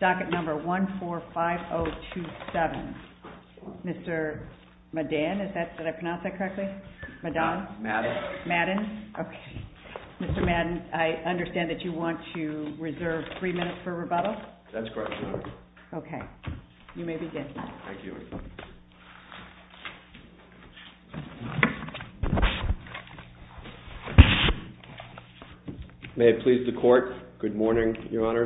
docket number 145027. Mr. Madden, I understand that you want to reserve three minutes for rebuttal? That's correct, Your Honor. Okay. You may begin. Thank you. May it please the court? Good morning, Your Honor.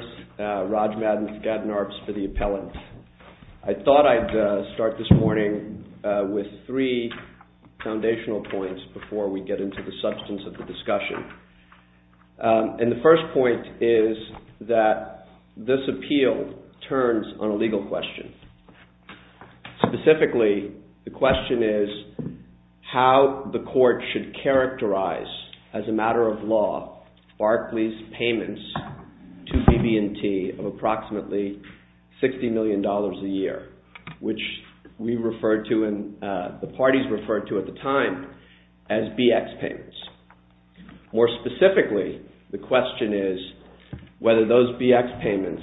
Raj Madden, Skadden Arps for the appellant. I thought I'd start this morning with three foundational points before we get into the substance of the discussion. And the first point is that this appeal turns on a legal question. Specifically, the question is how the court should characterize as a matter of law, Barclay's payments to BB&T of approximately $60 million a year, which we referred to and the parties referred to at the time as BX payments. More specifically, the question is whether those BX payments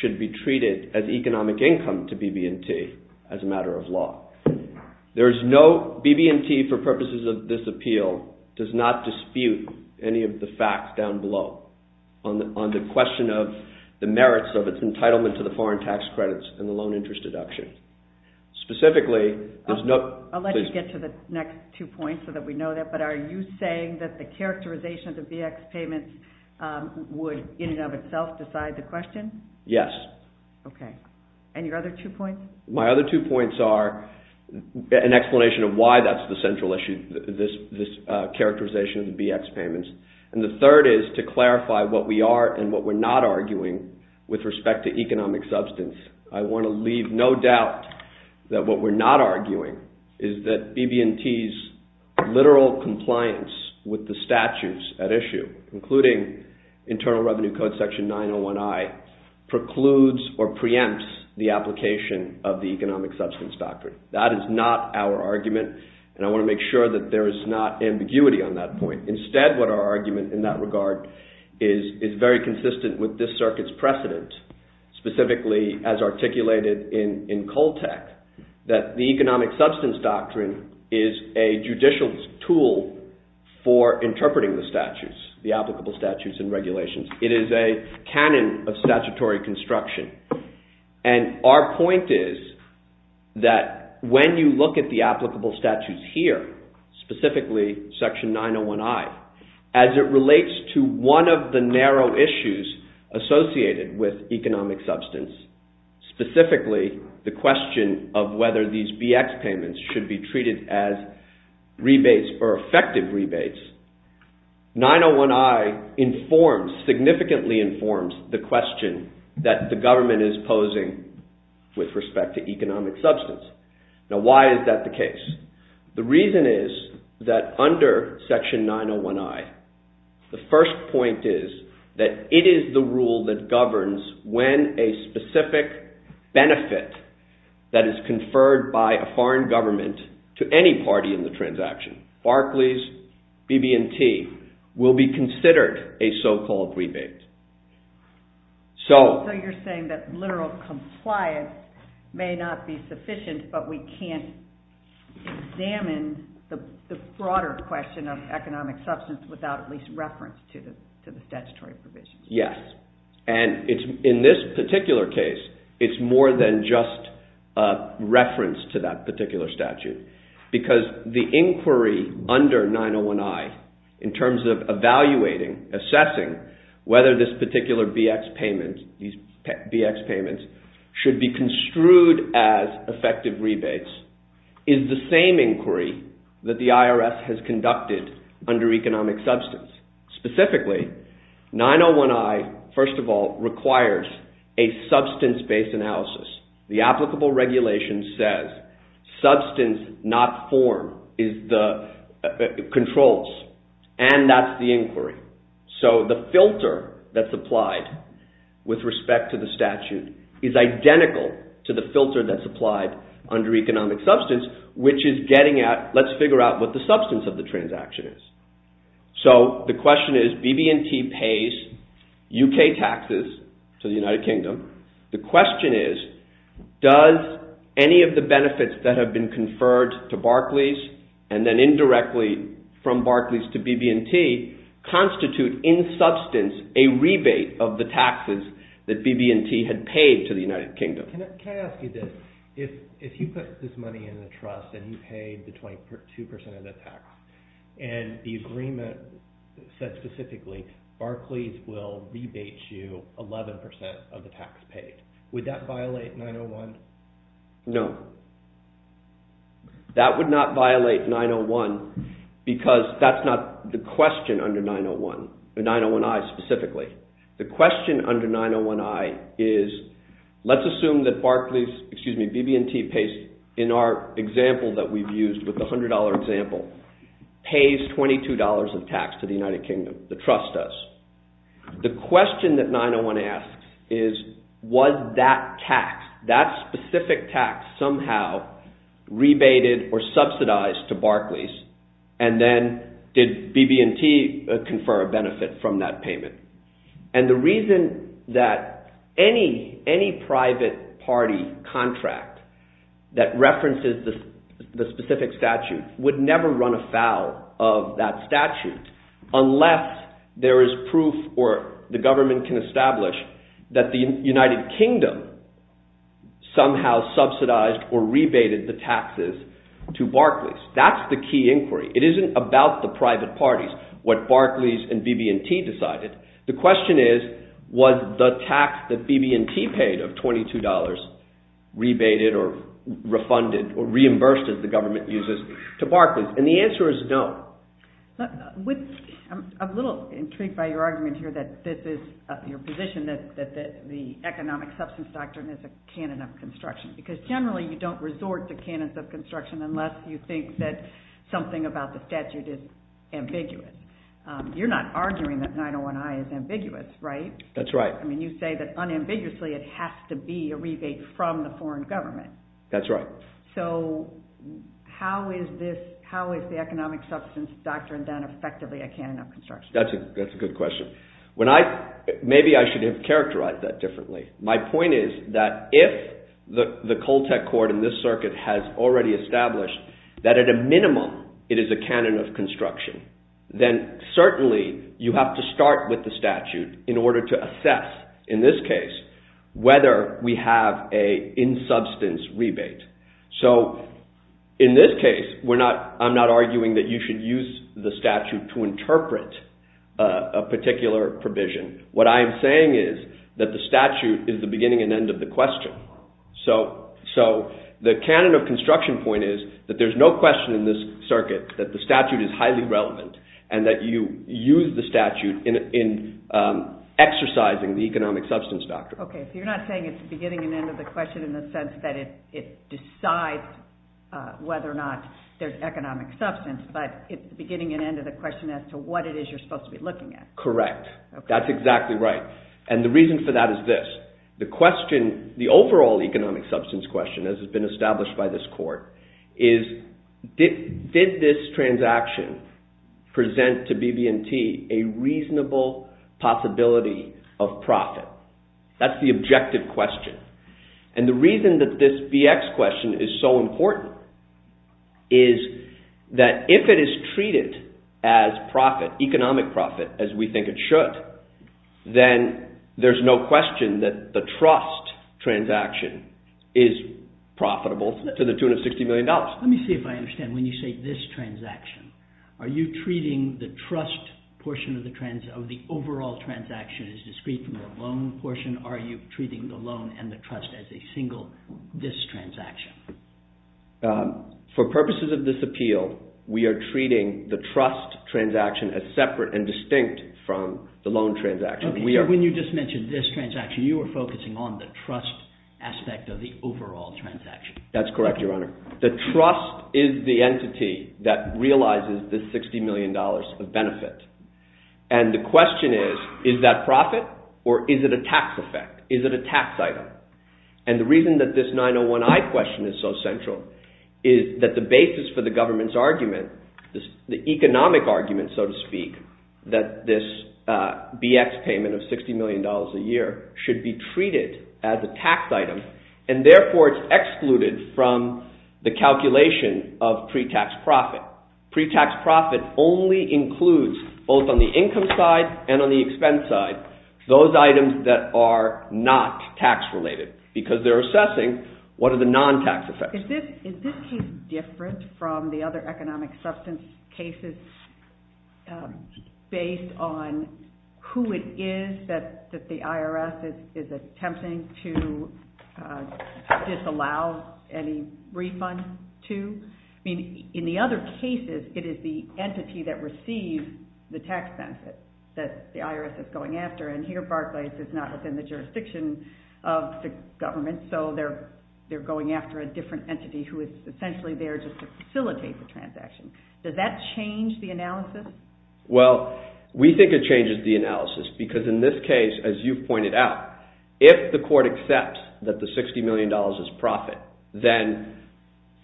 should be treated as economic income to BB&T as a matter of law. BB&T, for purposes of this appeal, does not dispute any of the facts down below on the question of the merits of its entitlement to the foreign tax credits and the loan interest deduction. Specifically, there's no... I'll let you get to the next two points so that we know that, but are you saying that the characterization of the BX payments would in and of itself decide the question? Yes. Okay. And your other two points? My other two points are an explanation of why that's the central issue, this characterization of the BX payments. And the third is to clarify what we are and what we're not arguing with respect to economic substance. I want to leave no doubt that what we're not arguing is that BB&T's literal compliance with the statutes at issue, including Internal Revenue Code Section 901I, precludes or preempts the application of the economic substance factor. That is not our argument and I want to make sure that there is not ambiguity on that point. Instead, what our argument in that regard is very consistent with this circuit's precedent, specifically as articulated in Coltec, that the economic substance doctrine is a judicial tool for interpreting the statutes, the applicable statutes and regulations. It is a canon of statutory construction. And our point is that when you look at the applicable statutes here, specifically Section 901I, as it relates to one of the narrow issues associated with economic substance, specifically the question of whether these BX payments should be treated as rebates or effective rebates, 901I informs, significantly informs, the question that the government is posing with respect to economic substance. Now, why is that the case? The reason is that under Section 901I, the first point is that it is the rule that governs when a specific benefit that is conferred by a foreign government to any party in the transaction, Barclays, BB&T, will be considered a so-called rebate. So you are saying that literal compliance may not be sufficient, but we can't examine the broader question of economic substance without at least reference to the statutory provisions. Yes, and in this particular case it is more than just reference to that particular statute, because the inquiry under 901I, in terms of evaluating, assessing, whether this particular BX payment, these BX payments, should be construed as effective rebates, is the same inquiry that the IRS has conducted under economic substance. Specifically, 901I, first of all, requires a substance-based analysis. The applicable regulation says substance, not form, controls, and that's the inquiry. So the filter that's applied with respect to the statute is identical to the filter that's applied under economic substance, which is getting at, let's figure out what the substance of the transaction is. So the question is BB&T pays UK taxes to the United Kingdom. The question is, does any of the benefits that have been conferred to Barclays, and then indirectly from Barclays to BB&T, constitute in substance a rebate of the taxes that BB&T had paid to the United Kingdom? Can I ask you this? If you put this money in a trust and you paid the 22% of the tax, and the agreement said specifically Barclays will receive 11% of the tax paid, would that violate 901? No. That would not violate 901 because that's not the question under 901, 901I specifically. The question under 901I is, let's assume that Barclays, excuse me, BB&T pays, in our example that we've used with the $100 example, pays $22 of tax to the United Kingdom, the trust does. The question that 901 asks is, was that tax, that specific tax somehow rebated or subsidized to Barclays, and then did BB&T confer a benefit from that payment? And the reason that any private party contract that references the specific statute would never run afoul of that statute unless there is proof or the government can establish that the United Kingdom somehow subsidized or rebated the taxes to Barclays. That's the key inquiry. It isn't about the private parties, what Barclays and BB&T decided. The question is, was the tax that BB&T paid of $22 rebated or refunded or reimbursed as the government uses to Barclays? And the answer is no. I'm a little intrigued by your argument here that this is, your position that the economic substance doctrine is a canon of construction, because generally you don't resort to canons of construction unless you think that something about the statute is ambiguous. You're not arguing that 901I is ambiguous, right? That's right. I mean, you say that unambiguously it has to be a rebate from the foreign government. That's right. So how is this, how is the economic substance doctrine then effectively a canon of construction? That's a good question. When I, maybe I should have characterized that differently. My point is that if the Coltec Court in this circuit has already established that at a minimum it is a canon of construction, then certainly you have to start with the statute in order to assess, in this case, whether we have a in-substance rebate. So in this case, we're not, I'm not arguing that you should use the statute to interpret a particular provision. What I am saying is that the statute is the beginning and end of the question. So, so the canon of construction point is that there's no question in this circuit that the statute is highly relevant and that you use the statute in exercising the economic substance doctrine. Okay, so you're not saying it's the beginning and end of the question in the sense that it decides whether or not there's economic substance, but it's the beginning and end of the question as to what it is you're supposed to be looking at. Correct. That's exactly right. And the reason for that is this. The question, the overall economic substance question, as it's been established by this court, is did this transaction present to BB&T a reasonable possibility of profit? That's the objective question. And the reason that this BX question is so important is that if it is treated as profit, economic profit, as we think it should, then there's no question that the trust transaction is profitable to the tune of $60 million. Let me see if I understand. When you say this transaction, are you treating the trust portion of the overall transaction as discrete from the loan portion? Are you treating the loan and the trust as a single, this transaction? Yes. For purposes of this appeal, we are treating the trust transaction as separate and distinct from the loan transaction. Okay, so when you just mentioned this transaction, you were focusing on the trust aspect of the overall transaction. That's correct, Your Honor. The trust is the entity that realizes this $60 million of benefit. And the question is, is that profit or is it a tax effect? Is it a tax item? And the reason that this 901I question is so central is that the basis for the government's argument, the economic argument, so to speak, that this BX payment of $60 million a year should be treated as a tax item, and therefore it's excluded from the calculation of pre-tax profit. Pre-tax profit only includes, both on the income side and on the expense side, those benefits. What are the non-tax effects? Is this case different from the other economic substance cases based on who it is that the IRS is attempting to disallow any refund to? I mean, in the other cases, it is the entity that receives the tax benefit that the IRS is going after. And here, Barclays, it's not within the jurisdiction of the government, so they're going after a different entity who is essentially there just to facilitate the transaction. Does that change the analysis? Well, we think it changes the analysis because in this case, as you've pointed out, if the court accepts that the $60 million is profit, then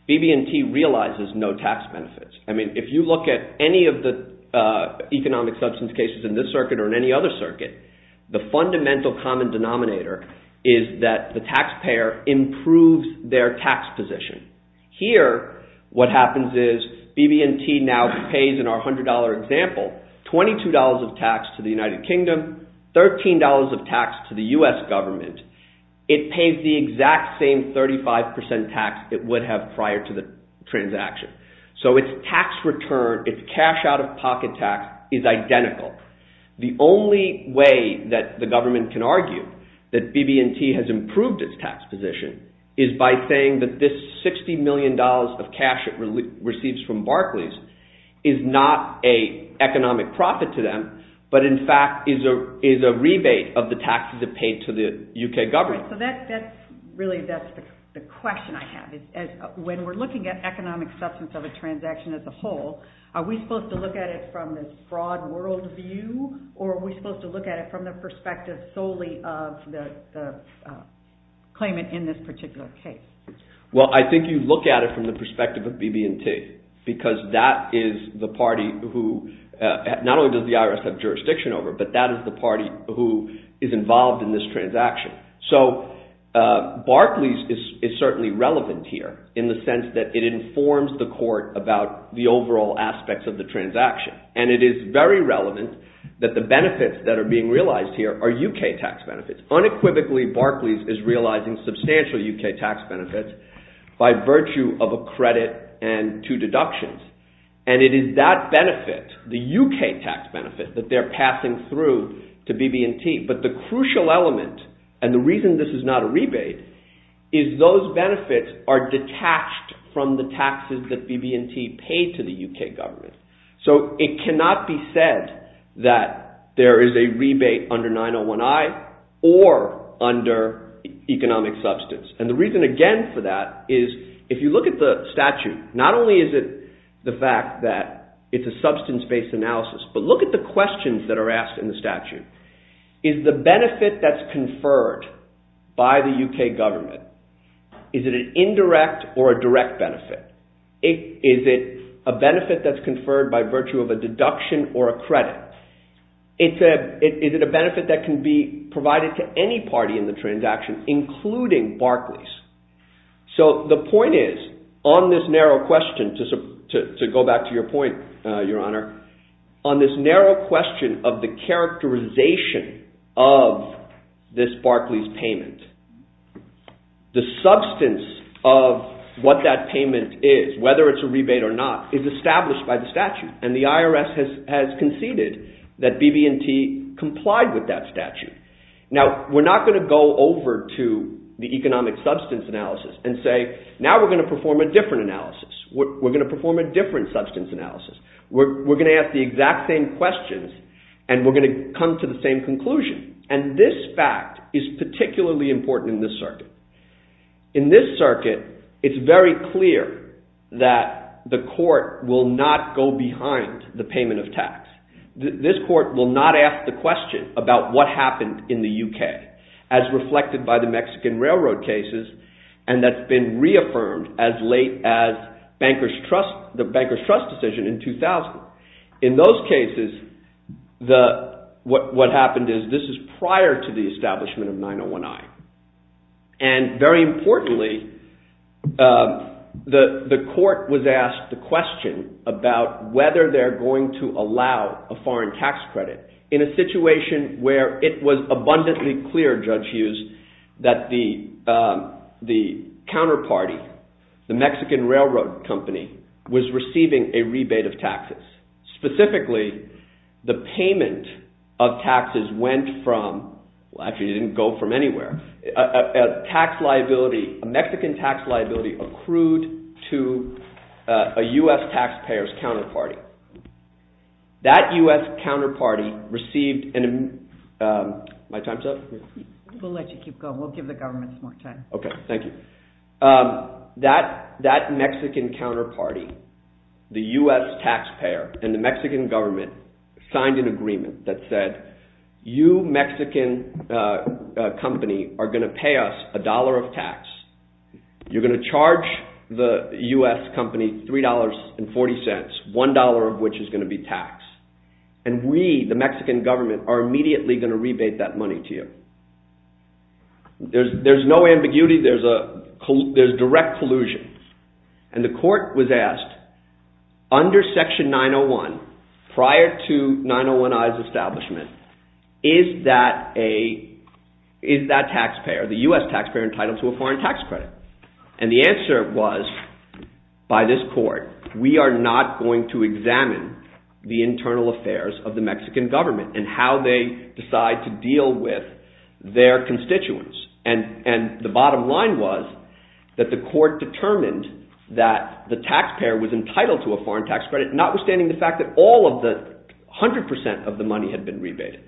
BB&T realizes no tax benefits. I mean, if you look at any of the economic substance cases in this circuit or in any other circuit, the fundamental common denominator is that the taxpayer improves their tax position. Here, what happens is BB&T now pays, in our $100 example, $22 of tax to the United Kingdom, $13 of tax to the U.S. government. It pays the exact same 35% tax it would have prior to the transaction. So its tax return, its cash-out-of-pocket tax, is identical. The only way that the government can argue that BB&T has improved its tax position is by saying that this $60 million of cash it receives from Barclays is not an economic profit to them, but in fact is a rebate of the taxes it paid to the U.K. government. So that's really the question I have. When we're looking at economic substance of a transaction as a whole, are we supposed to look at it from this broad worldview, or are we supposed to look at it from the perspective solely of the claimant in this particular case? Well, I think you look at it from the perspective of BB&T, because that is the party who, not only does the IRS have jurisdiction over, but that is the party who is involved in this transaction. So Barclays is certainly relevant here in the sense that it informs the court about the overall aspects of the transaction. And it is very relevant that the benefits that are being realized here are U.K. tax benefits. Unequivocally, Barclays is realizing substantial U.K. tax benefits by virtue of a credit and two deductions. And it is that benefit, the U.K. tax benefit, that they're passing through to BB&T. But the crucial element, and the reason this is not a rebate, is those benefits are detached from the taxes that BB&T paid to the U.K. government. So it cannot be said that there is a rebate under 901I or under economic substance. And the reason, again, for that is, if you look at the statute, not only is it the fact that it's a substance-based analysis, but look at the questions that are asked in the statute. Is the benefit that's conferred by the U.K. government, is it an benefit that's conferred by virtue of a deduction or a credit? Is it a benefit that can be provided to any party in the transaction, including Barclays? So the point is, on this narrow question, to go back to your point, Your Honor, on this narrow question of the characterization of this Barclays payment, the substance of what that payment is, whether it's a rebate or not, is established by the statute. And the IRS has conceded that BB&T complied with that statute. Now, we're not going to go over to the economic substance analysis and say, now we're going to perform a different analysis. We're going to perform a different substance analysis. We're going to ask the exact same questions, and we're going to come to the same conclusion. And this fact is particularly important in this circuit. In this circuit, it's very clear that the court will not go behind the payment of tax. This court will not ask the question about what happened in the U.K., as reflected by the Mexican Railroad cases, and that's been reaffirmed as late as the Banker's Trust decision in 2000. In those cases, what happened is this is prior to the establishment of 901I. And very importantly, the court was asked the question about whether they're going to allow a foreign tax credit in a situation where it was abundantly clear, Judge Hughes, that the counterparty, the Mexican Railroad company, was receiving a rebate of taxes. Specifically, the payment of taxes went from, well actually it didn't go from anywhere, a tax liability, a Mexican tax liability accrued to a U.S. taxpayer's counterparty. That U.S. counterparty received, my time's up? We'll let you keep going. We'll give the government some more time. Okay, thank you. That Mexican counterparty, the U.S. taxpayer, and the Mexican government signed an agreement that said, you Mexican company are going to pay us a dollar of tax. You're going to charge the U.S. company $3.40, one dollar of which is going to be taxed. And we, the Mexican government, are immediately going to rebate that money to you. There's no ambiguity, there's direct collusion. And the court was asked, under Section 901, prior to 901I's establishment, is that taxpayer, the U.S. taxpayer, entitled to a foreign tax credit? And the answer was, by this court, we are not going to examine the internal affairs of the Mexican government and how they decide to deal with their constituents. And the bottom line was that the court determined that the taxpayer was entitled to a foreign tax credit, notwithstanding the fact that 100% of the money had been rebated.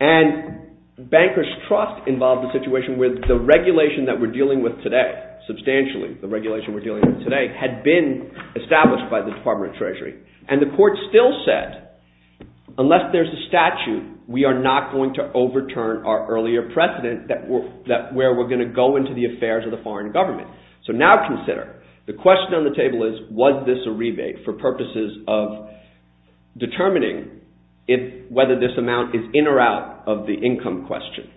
And bankers' trust involved a situation where the regulation that we're dealing with today, substantially the regulation we're dealing with today, had been established by the Department of Treasury. And the court still said, unless there's a statute, we are not going to overturn our earlier precedent where we're going to go into the affairs of the foreign government. So now consider, the question on the table is, was this a rebate for purposes of determining whether this amount is in or out of the income question?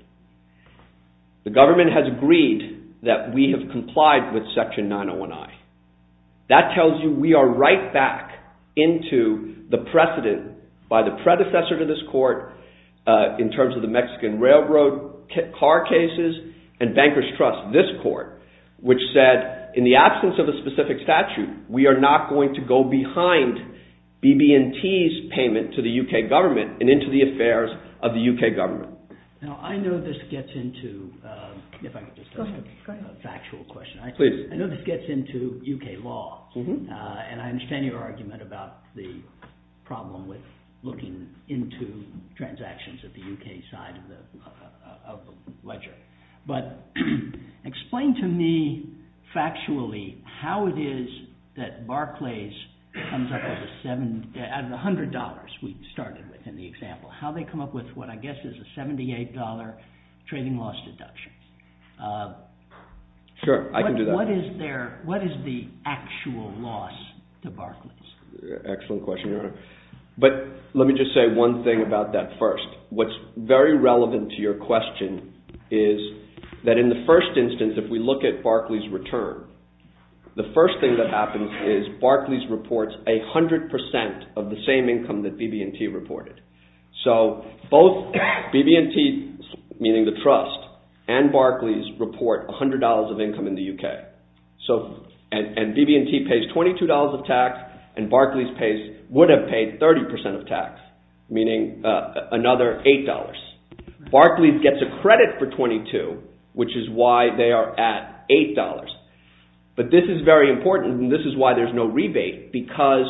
The government has agreed that we have complied with Section 901I. That tells you we are right back into the precedent by the predecessor to this court, in terms of the Mexican railroad car cases, and bankers' trust, this court, which said, in the absence of a specific statute, we are not going to go behind BB&T's payment to the UK government and into the affairs of the UK government. Now I know this gets into a factual question. I know this gets into UK law, and I understand your argument about the problem with looking into transactions at the UK side of the ledger. But explain to me, factually, how it is that Barclays comes up with a $100, we started with in the example, how they come up with what I guess is a $78 trading loss deduction. What is the actual loss to Barclays? Excellent question, Your Honor. But let me just say one thing about that first. What's very relevant to your question is that in the first instance, if we look at Barclays' return, the first thing that happens is Barclays reports 100% of the same income that BB&T reported. So both BB&T, meaning the trust, and Barclays report $100 of income in the UK. And BB&T pays $22 of tax, and Barclays would have paid 30% of tax, meaning another $8. Barclays gets a credit for $22, which is why they are at $8. But this is very important, and this is why there's no rebate, because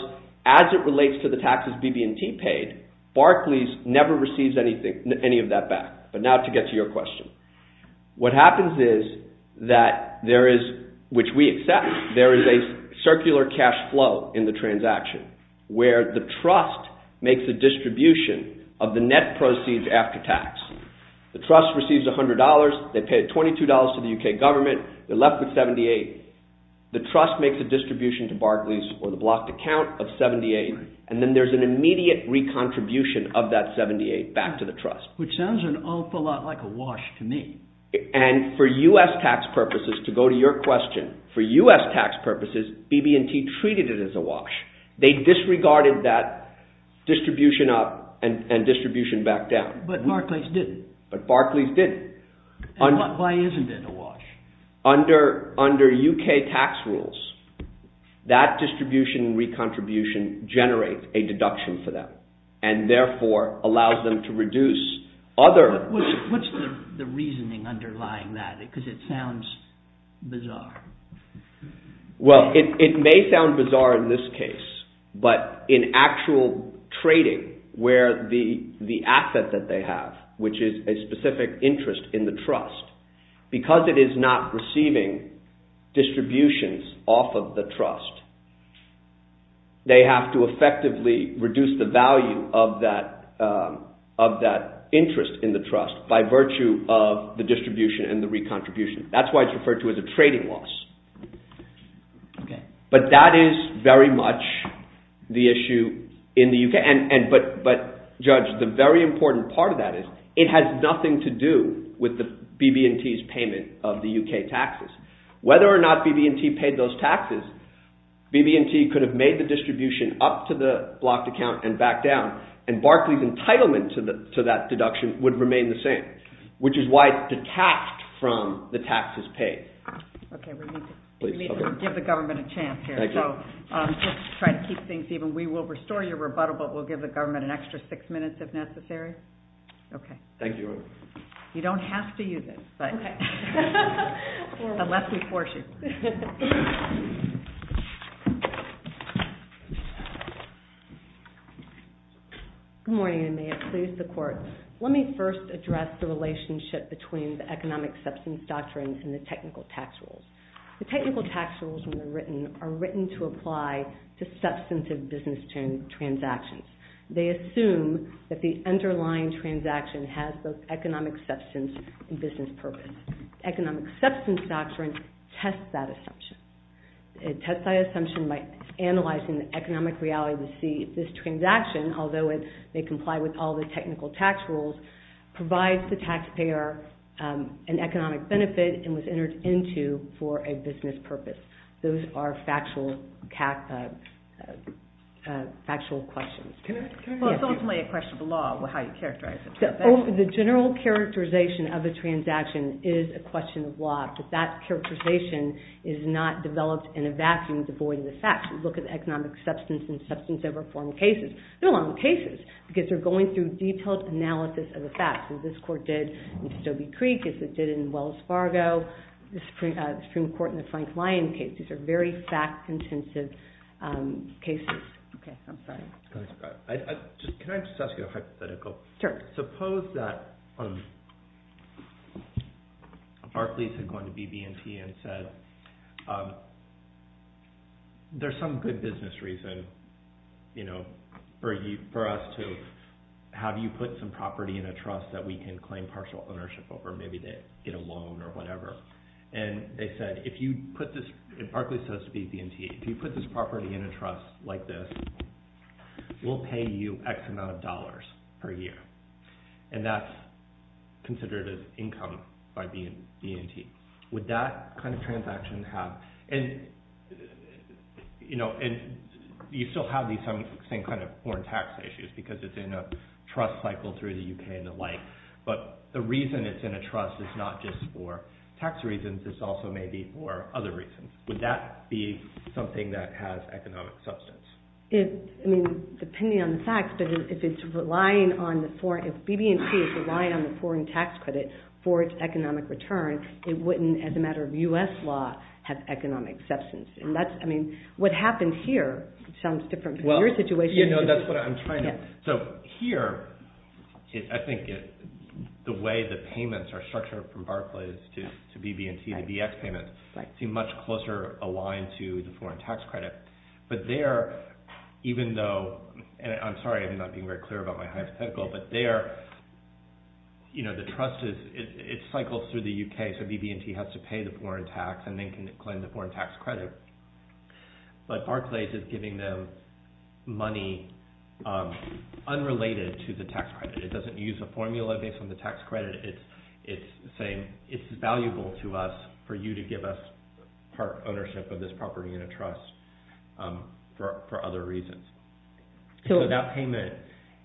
as it relates to the taxes BB&T paid, Barclays never receives any of that back. But now to get to your question. What happens is that there is, which we accept, there is a circular cash flow in the transaction, where the trust makes a distribution of the net proceeds after tax. The trust receives $100, they pay $22 to the UK government, they're left with $78. The trust makes a distribution to Barclays for the blocked account of $78, and then there's an immediate re-contribution of that $78 back to the trust. Which sounds an awful lot like a wash to me. And for US tax purposes, to go to your question, for US tax purposes, BB&T treated it as a distribution up and distribution back down. But Barclays didn't. But Barclays didn't. And why isn't it a wash? Under UK tax rules, that distribution re-contribution generates a deduction for them, and therefore allows them to reduce other... What's the reasoning underlying that? Because it sounds bizarre. Well, it may sound bizarre in this case, but in actual trading, where the asset that they have, which is a specific interest in the trust, because it is not receiving distributions off of the trust, they have to effectively reduce the value of that interest in the trust by virtue of the distribution and the re-contribution. That's why it's referred to as a trading loss. But that is very much the issue in the UK. But judge, the very important part of that is it has nothing to do with BB&T's payment of the UK taxes. Whether or not BB&T paid those taxes, BB&T could have made the distribution up to the blocked account and back down, and Barclays' entitlement to that deduction would remain the same. Which is why it's detached from the taxes paid. Okay, we need to give the government a chance here, so just to try to keep things even, we will restore your rebuttal, but we'll give the government an extra six minutes if necessary. Thank you. You don't have to use it, but unless we force you. Good morning, and may it please the Court. Let me first address the relationship between the economic substance doctrine and the technical tax rules. The technical tax rules, when they're written, are written to apply to substantive business transactions. They assume that the underlying transaction has those economic substance and business purpose. The economic substance doctrine tests that assumption. It tests that assumption by analyzing the economic reality to see if this transaction, although it may comply with all the technical tax rules, provides the taxpayer an economic benefit and was entered into for a business purpose. Those are factual questions. It's ultimately a question of the law, how you characterize it. The general characterization of a transaction is a question of law, but that characterization is not developed in a vacuum devoid of the facts. If you look at the economic substance and substantive reform cases, they're long cases because they're going through detailed analysis of the facts, as this court did in Stobie Creek, as it did in Wells Fargo, the Supreme Court in the Frank Lyon case. These are very fact-intensive cases. Okay, I'm sorry. Can I just ask you a hypothetical? Sure. All right, suppose that Barclays had gone to BB&T and said, there's some good business reason for us to have you put some property in a trust that we can claim partial ownership over. Maybe they get a loan or whatever. Barclays says to BB&T, if you put this property in a trust like this, we'll pay you X amount of dollars per year, and that's considered as income by BB&T. Would that kind of transaction have... You still have these same kind of foreign tax issues because it's in a trust cycle through the UK and the like, but the reason it's in a trust is not just for tax reasons. This also may be for other reasons. Would that be something that has economic substance? I mean, depending on the facts, but if BB&T is relying on the foreign tax credit for its economic return, it wouldn't, as a matter of US law, have economic substance. What happened here sounds different from your situation. You know, that's what I'm trying to... So here, I think the way the payments are structured from Barclays to BB&T, the BX payments, seem much closer aligned to the foreign tax credit. But there, even though... And I'm sorry, I'm not being very clear about my hypothetical, but there, you know, the trust is... It cycles through the UK, so BB&T has to pay the foreign tax and then can claim the foreign tax credit. But Barclays is giving them money unrelated to the tax credit. It doesn't use a formula based on the tax credit. It's saying, it's valuable to us for you to give us ownership of this property in a trust for other reasons. So that payment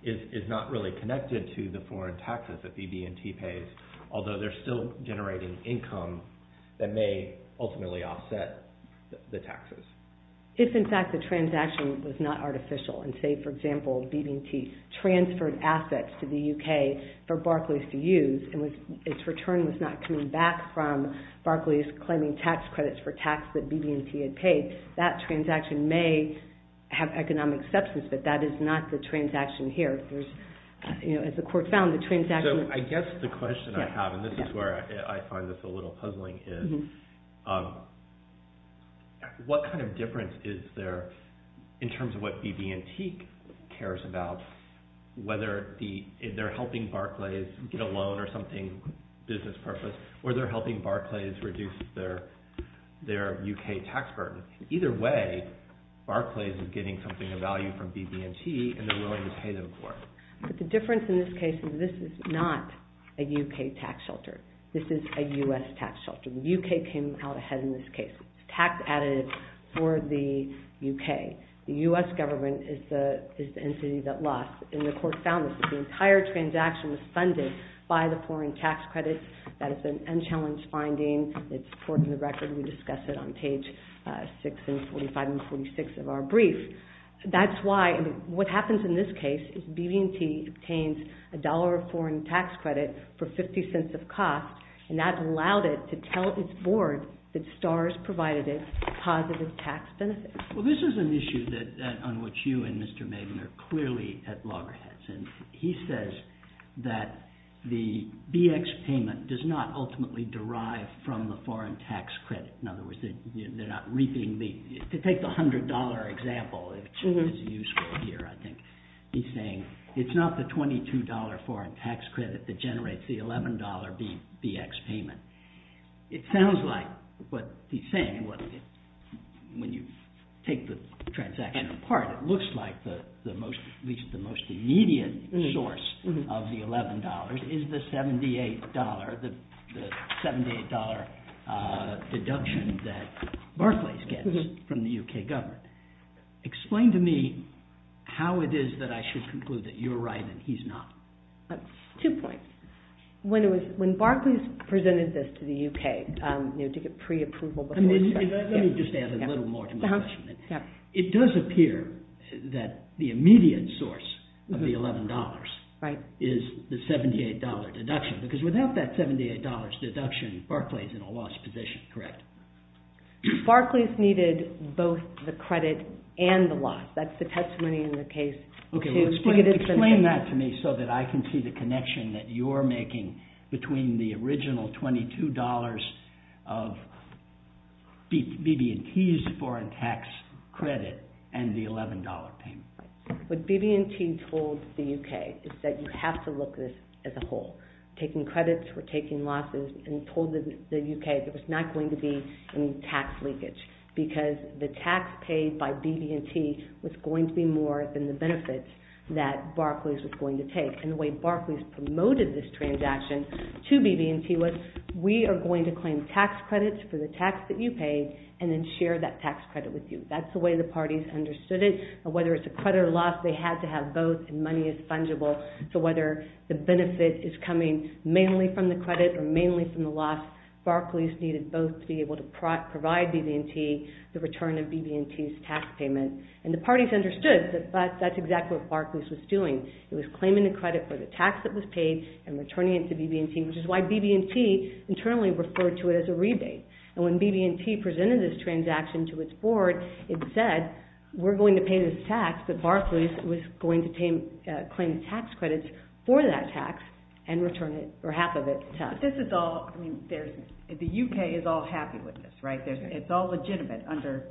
is not really connected to the foreign taxes that BB&T pays, although they're still generating income that may ultimately offset the taxes. If, in fact, the transaction was not artificial and, say, for example, BB&T transferred assets to the UK for Barclays to use, and its return was not coming back from Barclays claiming tax credits for tax that BB&T had paid, that transaction may have economic substance, but that is not the transaction here. As the court found, the transaction... So I guess the question I have, and this is where I find this a little puzzling, is what kind of difference is there in terms of what BB&T cares about, whether they're helping Barclays get a loan or something, business purpose, or they're helping Barclays reduce their UK tax burden. Either way, Barclays is getting something of value from BB&T, and they're willing to pay them for it. But the difference in this case is this is not a UK tax shelter. This is a US tax shelter. The UK came out ahead in this case. It's tax additive for the UK. The US government is the entity that lost, and the court found this. The entire transaction was funded by the foreign tax credits. That is an unchallenged finding. It's recorded in the record. We discuss it on page 6 and 45 and 46 of our brief. That's why... What happens in this case is BB&T obtains a dollar of foreign tax credit for 50 cents of cost, and that's allowed it to tell its board that STARS provided it positive tax benefits. Well, this is an issue on which you and Mr. Maiden are clearly at loggerheads, and he says that the BX payment does not ultimately derive from the foreign tax credit. In other words, they're not reaping the... To take the $100 example, which is useful here, I think, he's saying it's not the $22 foreign tax credit that generates the $11 BX payment. It sounds like what he's saying, when you take the transaction apart, it looks like the most immediate source of the $11 is the $78, the $78 deduction that Barclays gets from the UK government. Explain to me how it is that I should conclude that you're right and he's not. Two points. When Barclays presented this to the UK to get pre-approval before... Let me just add a little more to my question. It does appear that the immediate source of the $11 is the $78 deduction, because without that $78 deduction, Barclays is in a lost position, correct? Barclays needed both the credit and the loss. That's the testimony in the case. Okay, explain that to me so that I can see the connection that you're making between the original $22 of BB&T's foreign tax credit and the $11 payment. What BB&T told the UK is that you have to look at this as a whole. Taking credits or taking losses and told the UK there was not going to be any tax leakage because the tax paid by BB&T was going to be more than the benefits that Barclays was going to take. And the way Barclays promoted this transaction to BB&T was, we are going to claim tax credits for the tax that you paid and then share that tax credit with you. That's the way the parties understood it. Whether it's a credit or loss, they had to have both and money is fungible. So whether the benefit is coming mainly from the credit or mainly from the loss, Barclays needed both to be able to provide BB&T the return of BB&T's tax payment. And the parties understood that that's exactly what Barclays was doing. It was claiming the credit for the tax that was paid and returning it to BB&T, which is why BB&T internally referred to it as a rebate. And when BB&T presented this transaction to its board, it said, we're going to pay this tax that Barclays was going to claim tax credits for that tax and return it, or half of it, to us. But this is all, I mean, the UK is all happy with this, right? It's all legitimate under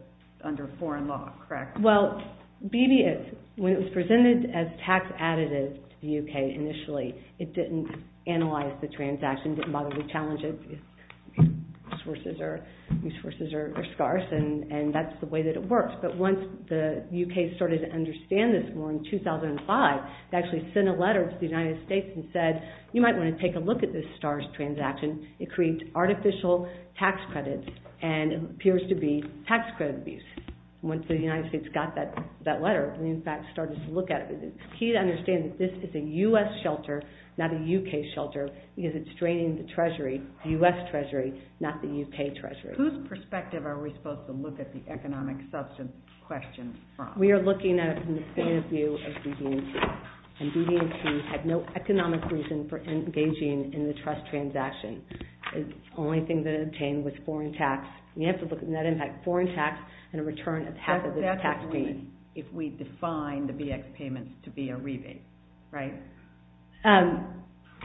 foreign law, correct? Well, BB&T, when it was presented as tax additive to the UK initially, it didn't analyze the transaction, didn't bother to challenge it. Its sources are scarce, and that's the way that it works. But once the UK started to understand this more in 2005, it actually sent a letter to the United States and said, you might want to take a look at this STARS transaction. It creates artificial tax credits and appears to be tax credit abuse. Once the United States got that letter and in fact started to look at it, it's key to understand that this is a US shelter, not a UK shelter, because it's draining the Treasury, the US Treasury, not the UK Treasury. Whose perspective are we supposed to look at the economic substance question from? We are looking at it from the point of view of BB&T. And BB&T had no economic reason for engaging in the trust transaction. The only thing that it obtained was foreign tax. We have to look at net impact, foreign tax, and a return of half of its tax fee. But that's if we define the VX payments to be a rebate, right?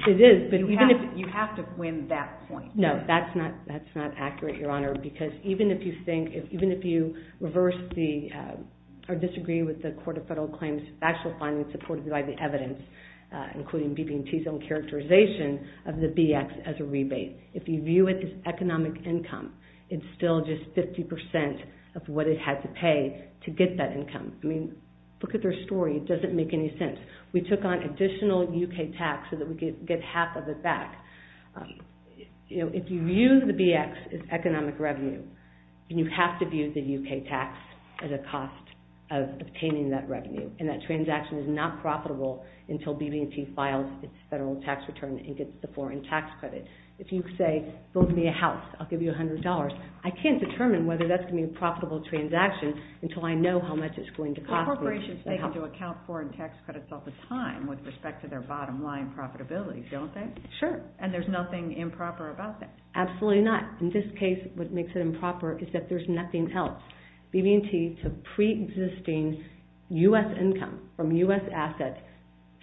It is, but even if... You have to win that point. No, that's not accurate, Your Honor, because even if you think, even if you reverse the, or disagree with the Court of Federal Claims' factual findings supported by the evidence, including BB&T's own characterization of the VX as a rebate, if you view it as economic income, it's still just 50% of what it had to pay to get that income. I mean, look at their story. It doesn't make any sense. We took on additional UK tax so that we could get half of it back. If you view the VX as economic revenue, you have to view the UK tax as a cost of obtaining that revenue. And that transaction is not profitable until BB&T files its federal tax return and gets the foreign tax credit. If you say, build me a house, I'll give you $100, I can't determine whether that's going to be a profitable transaction until I know how much it's going to cost me. Corporations take into account foreign tax credits all the time with respect to their bottom line profitability, don't they? Sure. And there's nothing improper about that. Absolutely not. In this case, what makes it improper is that there's nothing else. BB&T took pre-existing U.S. income from U.S. assets,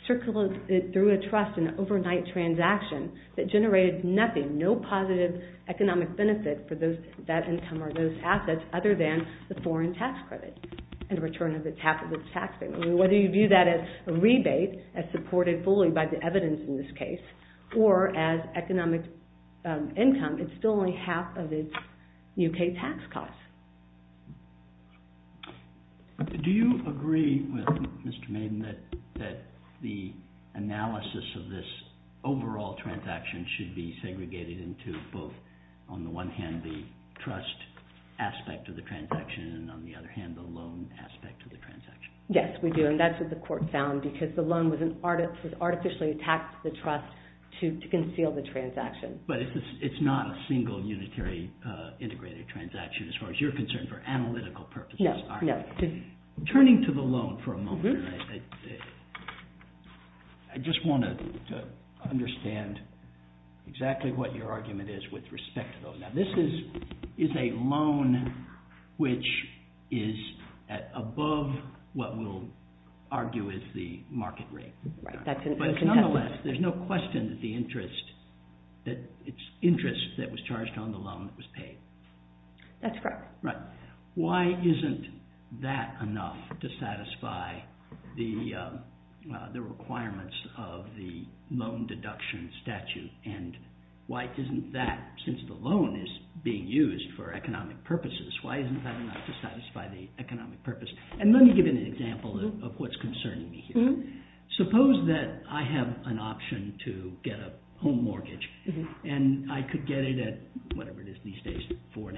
circulated it through a trust in an overnight transaction that generated nothing, no positive economic benefit for that income or those assets other than the foreign tax credit in return of the tax payment. Whether you view that as a rebate, as supported fully by the evidence in this case, or as economic income, it's still only half of its U.K. tax cost. Do you agree with Mr. Maiden that the analysis of this overall transaction should be segregated into both, on the one hand, the trust aspect of the transaction and on the other hand, the loan aspect of the transaction? Yes, we do. And that's what the court found because the loan was artificially taxed to the trust to conceal the transaction. But it's not a single unitary integrated transaction as far as you're concerned for analytical purposes. No, no. Turning to the loan for a moment, I just want to understand exactly what your argument is with respect to those. This is a loan which is above what we'll argue is the market rate. But nonetheless, there's no question that it's interest that was charged on the loan that was paid. That's correct. Right. Why isn't that enough to satisfy the requirements of the loan deduction statute and why isn't that, since the loan is being used for economic purposes, why isn't that enough to satisfy the economic purpose? And let me give you an example of what's concerning me here. Suppose that I have an option to get a home mortgage and I could get it at, whatever it is these days, 4.5%,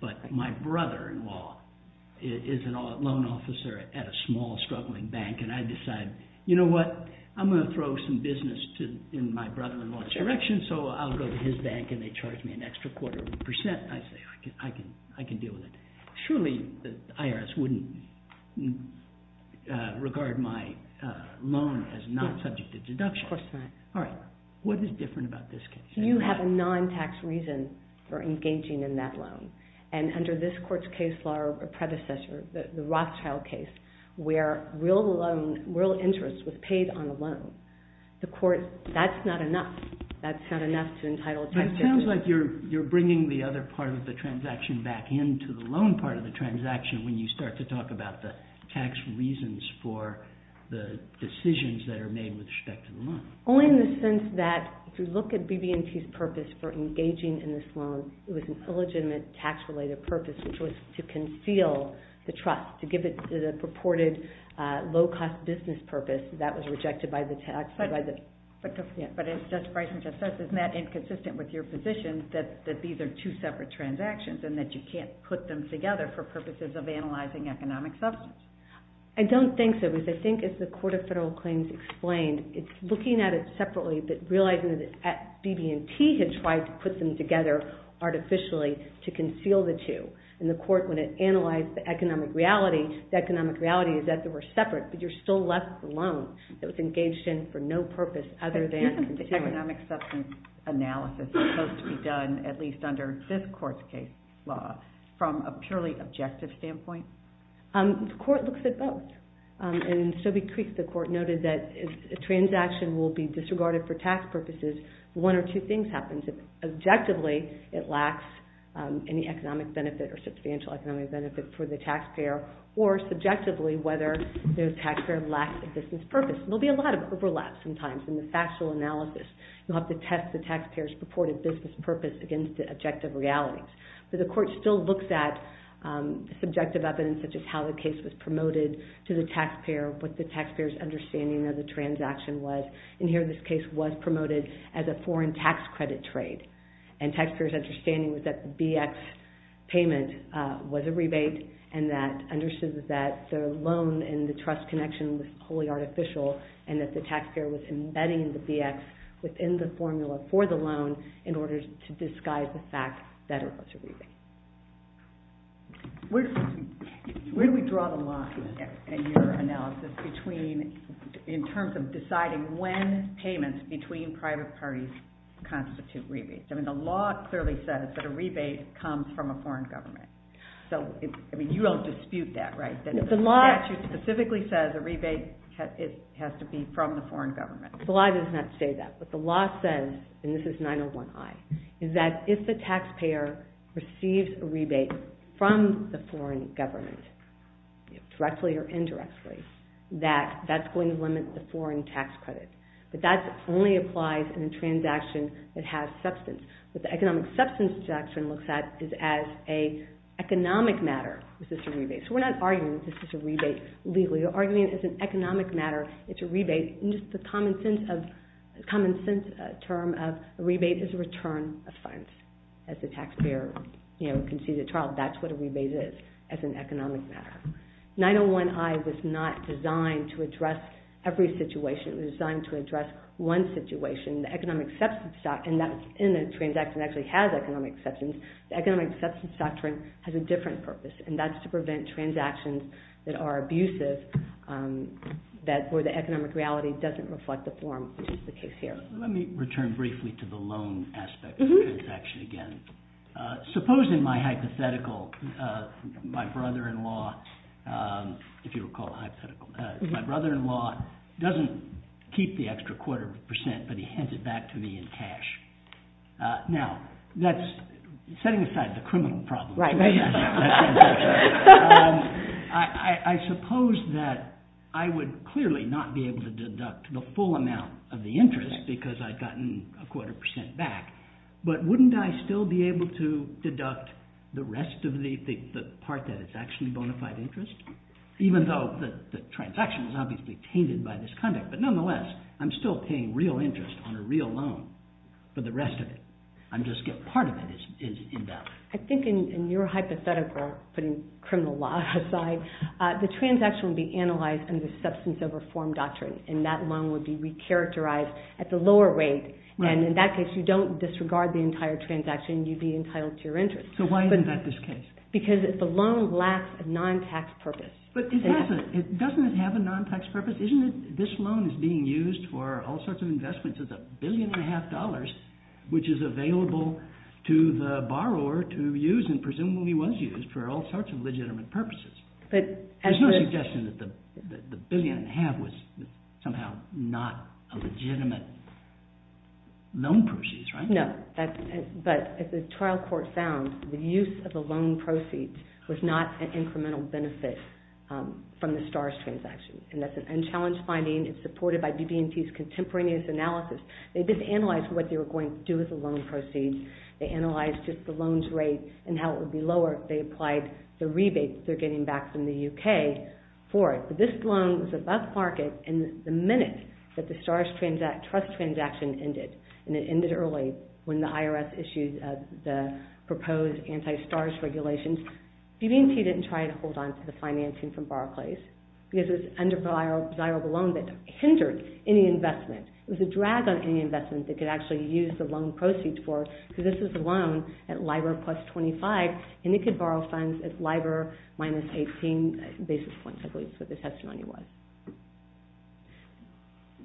but my brother-in-law is a loan officer at a small struggling bank and I decide, you know what, I'm going to throw some business in my brother-in-law's direction so I'll go to his bank and they charge me an extra quarter of a percent. I say, I can deal with it. Surely the IRS wouldn't regard my loan as not subject to deduction. Of course not. All right. What is different about this case? You have a non-tax reason for engaging in that loan. And under this court's case law or predecessor, the Rothschild case, where real interest was paid on a loan, the court, that's not enough. That's not enough to entitle a taxpayer. But it sounds like you're bringing the other part of the transaction back into the loan part of the transaction when you start to talk about the tax reasons for the decisions that are made with respect to the loan. Only in the sense that if you look at BB&T's purpose for engaging in this loan, it was an illegitimate tax-related purpose which was to conceal the trust, to give it a purported low-cost business purpose that was rejected by the taxpayer. But as Justice Breyerson just said, isn't that inconsistent with your position that these are two separate transactions and that you can't put them together for purposes of analyzing economic substance? I don't think so. Because I think, as the Court of Federal Claims explained, it's looking at it separately, but realizing that BB&T had tried to put them together artificially to conceal the two. And the court, when it analyzed the economic reality, the economic reality is that they were separate, but you're still left with a loan that was engaged in for no purpose other than... But isn't the economic substance analysis supposed to be done, at least under this court's case law, from a purely objective standpoint? The court looks at both. And in Sobey Creek, the court noted that if a transaction will be disregarded for tax purposes, one or two things happen. If, objectively, it lacks any economic benefit or substantial economic benefit for the taxpayer, or subjectively, whether the taxpayer lacks a business purpose. There'll be a lot of overlap sometimes in the factual analysis. You'll have to test the taxpayer's purported business purpose against objective realities. But the court still looks at subjective evidence such as how the case was promoted to the taxpayer, what the taxpayer's understanding of the transaction was. In here, this case was promoted as a foreign tax credit trade. And the taxpayer's understanding was that the BX payment was a rebate and that understood that the loan and the trust connection was wholly artificial and that the taxpayer was embedding the BX within the formula for the loan in order to disguise the fact that it was a rebate. Where do we draw the line in your analysis in terms of deciding when payments between private parties constitute rebates? I mean, the law clearly says that a rebate comes from a foreign government. So, I mean, you don't dispute that, right? The statute specifically says a rebate has to be from the foreign government. The law does not say that. What the law says, and this is 901I, is that if the taxpayer receives a rebate from the foreign government, directly or indirectly, that that's going to limit the foreign tax credit. But that only applies in a transaction that has substance. What the economic substance transaction looks at is as an economic matter, is this a rebate. So we're not arguing that this is a rebate legally. We're arguing that it's an economic matter, it's a rebate, and just the common sense term of a rebate is a return of funds. As the taxpayer, you know, can see the child, that's what a rebate is, as an economic matter. 901I was not designed to address every situation. It was designed to address one situation, and that's in a transaction that actually has economic substance. The economic substance doctrine has a different purpose, and that's to prevent transactions that are abusive, where the economic reality doesn't reflect the form, which is the case here. Let me return briefly to the loan aspect of the transaction again. Supposing my hypothetical, my brother-in-law, if you recall hypothetical, my brother-in-law doesn't keep the extra quarter percent, but he hands it back to me in cash. Now, that's setting aside the criminal problem. I suppose that I would clearly not be able to deduct the full amount of the interest because I'd gotten a quarter percent back, but wouldn't I still be able to deduct the rest of the part that is actually bona fide interest? Even though the transaction is obviously tainted by this conduct, but nonetheless, I'm still paying real interest on a real loan for the rest of it. Part of it is in-depth. I think in your hypothetical, putting criminal law aside, the transaction would be analyzed under the substance of reform doctrine, and that loan would be re-characterized at the lower rate, and in that case, you don't disregard the entire transaction, you'd be entitled to your interest. So why isn't that this case? Because the loan lacks a non-tax purpose. But doesn't it have a non-tax purpose? This loan is being used for all sorts of investments of a billion and a half dollars, which is available to the borrower to use, and presumably was used, for all sorts of legitimate purposes. There's no suggestion that the billion and a half was somehow not a legitimate loan proceeds, right? No, but as the trial court found, the use of the loan proceeds was not an incremental benefit from the STARS transaction, and that's an unchallenged finding. It's supported by BB&T's contemporaneous analysis. They did analyze what they were going to do with the loan proceeds. They analyzed just the loan's rate and how it would be lower if they applied the rebates they're getting back from the UK for it. But this loan was above market in the minute that the STARS trust transaction ended, and it ended early when the IRS issued the proposed anti-STARS regulations. BB&T didn't try to hold on to the financing from Barclays because it was an undesirable loan that hindered any investment. It was a drag on any investment that could actually use the loan proceeds for, because this is a loan at LIBOR plus 25, and it could borrow funds at LIBOR minus 18 basis points, I believe is what the testimony was.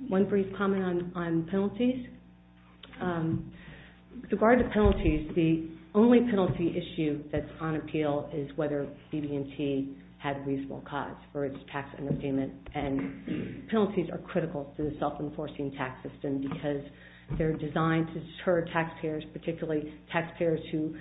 One brief comment on penalties. With regard to penalties, the only penalty issue that's on appeal is whether BB&T had reasonable cause for its tax underpayment. And penalties are critical to the self-enforcing tax system because they're designed to deter taxpayers, particularly taxpayers who,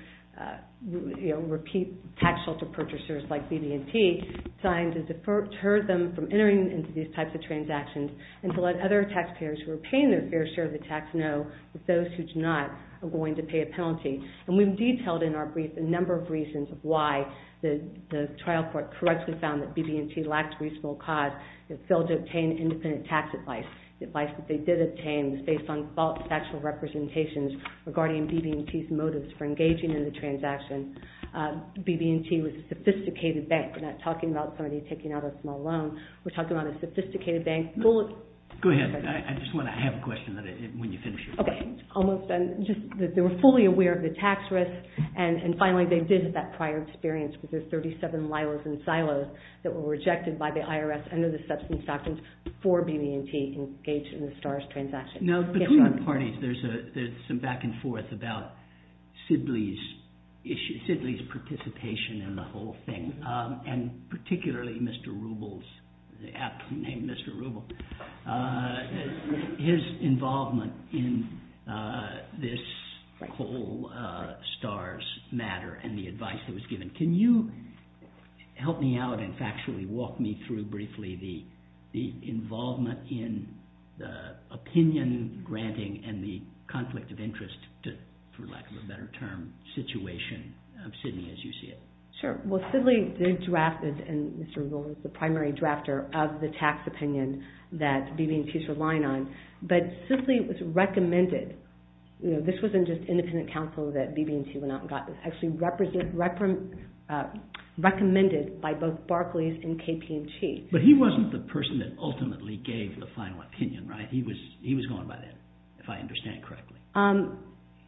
you know, repeat tax shelter purchasers like BB&T, designed to deter them from entering into these types of transactions and to let other taxpayers who are paying their fair share of the tax know that those who do not are going to pay a penalty. And we've detailed in our brief a number of reasons of why the trial court correctly found that BB&T lacked reasonable cause. They failed to obtain independent tax advice. The advice that they did obtain was based on false factual representations regarding BB&T's motives for engaging in the transaction. BB&T was a sophisticated bank. We're not talking about somebody taking out a small loan. We're talking about a sophisticated bank... Go ahead. I just want to have a question when you finish your question. Okay. Almost done. They were fully aware of the tax risk and, finally, they visited that prior experience with the 37 lilas and silos that were rejected by the IRS under the substance actions for BB&T engaged in the STARS transaction. Now, between the parties, there's some back-and-forth about Sidley's participation in the whole thing and particularly Mr. Rubel's... aptly named Mr. Rubel. His involvement in this whole STARS matter and the advice that was given. Can you help me out and factually walk me through briefly the involvement in the opinion-granting and the conflict of interest to, for lack of a better term, situation of Sidney as you see it? Sure. Well, Sidley drafted and Mr. Rubel is the primary drafter of the tax opinion that BB&T is relying on. But, Sidley was recommended you know, this wasn't just independent counsel that BB&T went out and got it was actually recommended by both Barclays and KPMG. But he wasn't the person that ultimately gave the final opinion, right? He was going by that, if I understand correctly. I'm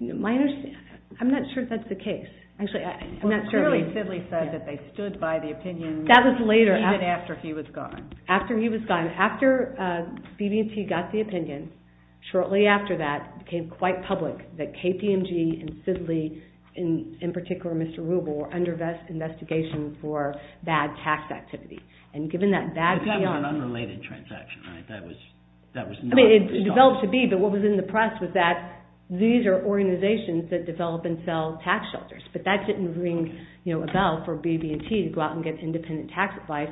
not sure that's the case. Clearly, Sidley said that they stood by the opinion even after he was gone. After he was gone. After BB&T got the opinion, shortly after that it became quite public that KPMG and Sidley in particular Mr. Rubel were under investigation for bad tax activity. That was an unrelated transaction, right? I mean, it developed to be but what was in the press was that these are organizations that develop and sell tax shelters. But that didn't ring a bell for BB&T to go out and get independent tax advice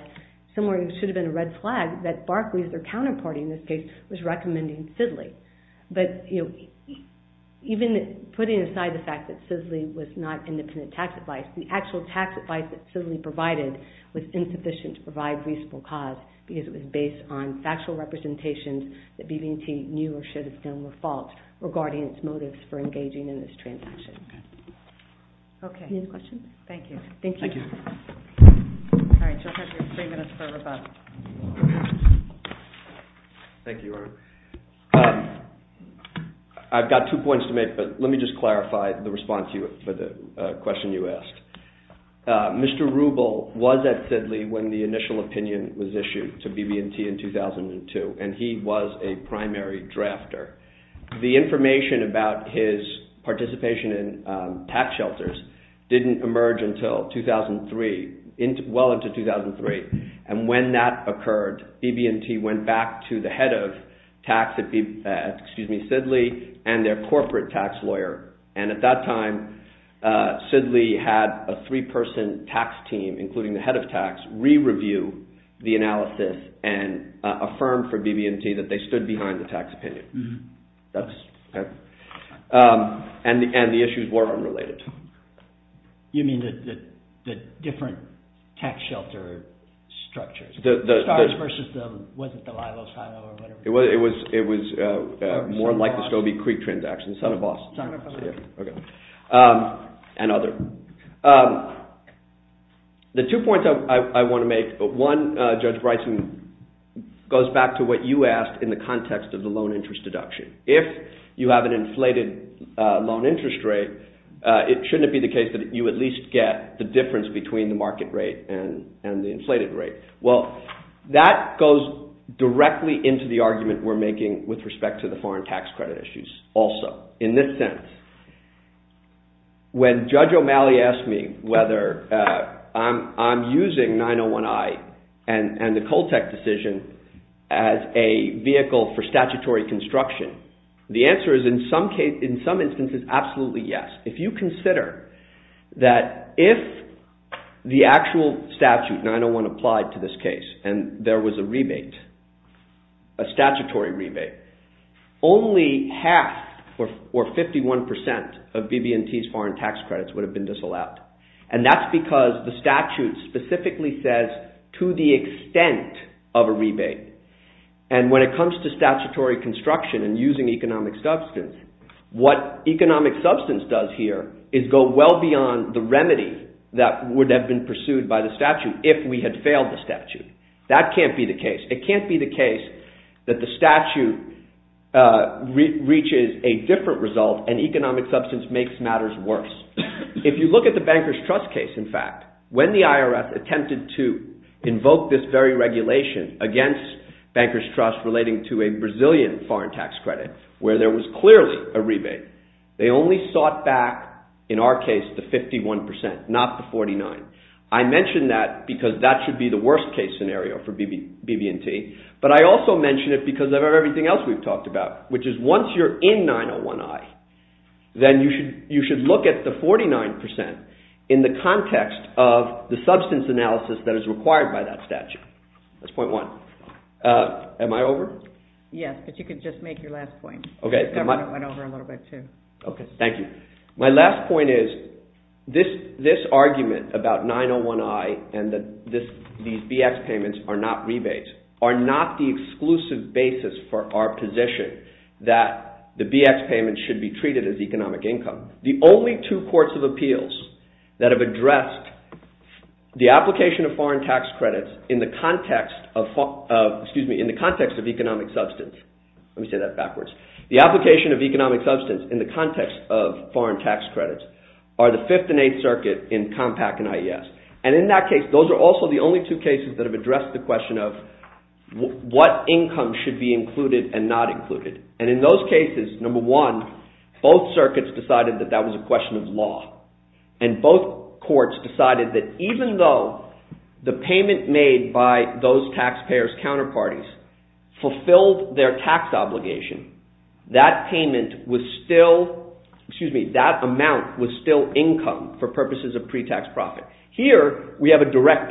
somewhere it should have been a red flag that Barclays, their counterpart in this case was recommending Sidley. But even putting aside the fact that Sidley was not independent tax advice, the actual tax advice that Sidley provided was insufficient to provide reasonable cause because it was based on factual representations that BB&T knew or should have done were false regarding its motives for engaging in this transaction. Any other questions? Thank you. Thank you. Thank you. I've got two points to make but let me just clarify the response for the question you asked. Mr. Rubel was at Sidley when the initial opinion was issued to BB&T in 2002 and he was a primary drafter. The information about his participation in tax shelters didn't emerge until 2003, well into 2003 and when that occurred BB&T went back to the head of tax Sidley and their corporate tax lawyer and at that time Sidley had a three person tax team including the head of tax re-review the analysis and affirmed for BB&T that they stood behind the tax opinion. And the issues were unrelated. You mean the different tax shelter structures? It was more like the Scobie Creek transaction. And other. The two points I want to make. One Judge Bryson goes back to what you asked in the context of the loan interest deduction. If you have an inflated loan interest rate it shouldn't be the case that you at least get the difference between the market rate and the inflated rate. Well that goes directly into the argument we're making with respect to the foreign tax credit issues also. In this sense when Judge O'Malley asked me whether I'm using 901I and the Coltec decision as a vehicle for the answer is in some instances absolutely yes. If you consider that if the actual statute 901 applied to this case and there was a rebate a statutory rebate only half or 51% of BB&T's foreign tax credits would have been disallowed. specifically says to the extent of a rebate and when it comes to statutory construction and using economic substance what economic substance does here is go well beyond the remedy that would have been pursued by the statute if we had failed the statute. That can't be the case. It can't be the case that the statute reaches a different result and economic substance makes matters worse. If you look at the banker's trust case in fact, when the IRS attempted to invoke this very regulation against banker's relating to a Brazilian foreign tax credit where there was clearly a rebate they only sought back in our case the 51% not the 49%. I mention that because that should be the worst case scenario for BB&T but I also mention it because of everything else we've talked about which is once you're in 901I then you should look at the 49% in the context of the substance analysis that is required by that statute. That's point one. Am I over? Yes, but you can just make your last point. Thank you. My last point is this argument about 901I and these BX payments are not rebates are not the exclusive basis for our position that the BX payments should be treated as economic income. The only two courts of appeals that have addressed the application of in the context of economic substance the application of economic substance in the context of foreign tax credits are the 5th and 8th circuit in Compact and IES and in that case those are also the only two cases that have addressed the question of what income should be included and not included and in those cases number one, both circuits decided that that was a question of law and both courts decided that even though the payment made by those taxpayers' counterparties fulfilled their tax obligation that payment was still, excuse me, that amount was still income for purposes of pre-tax profit. Here we have a direct payment. Thank you. Thank you.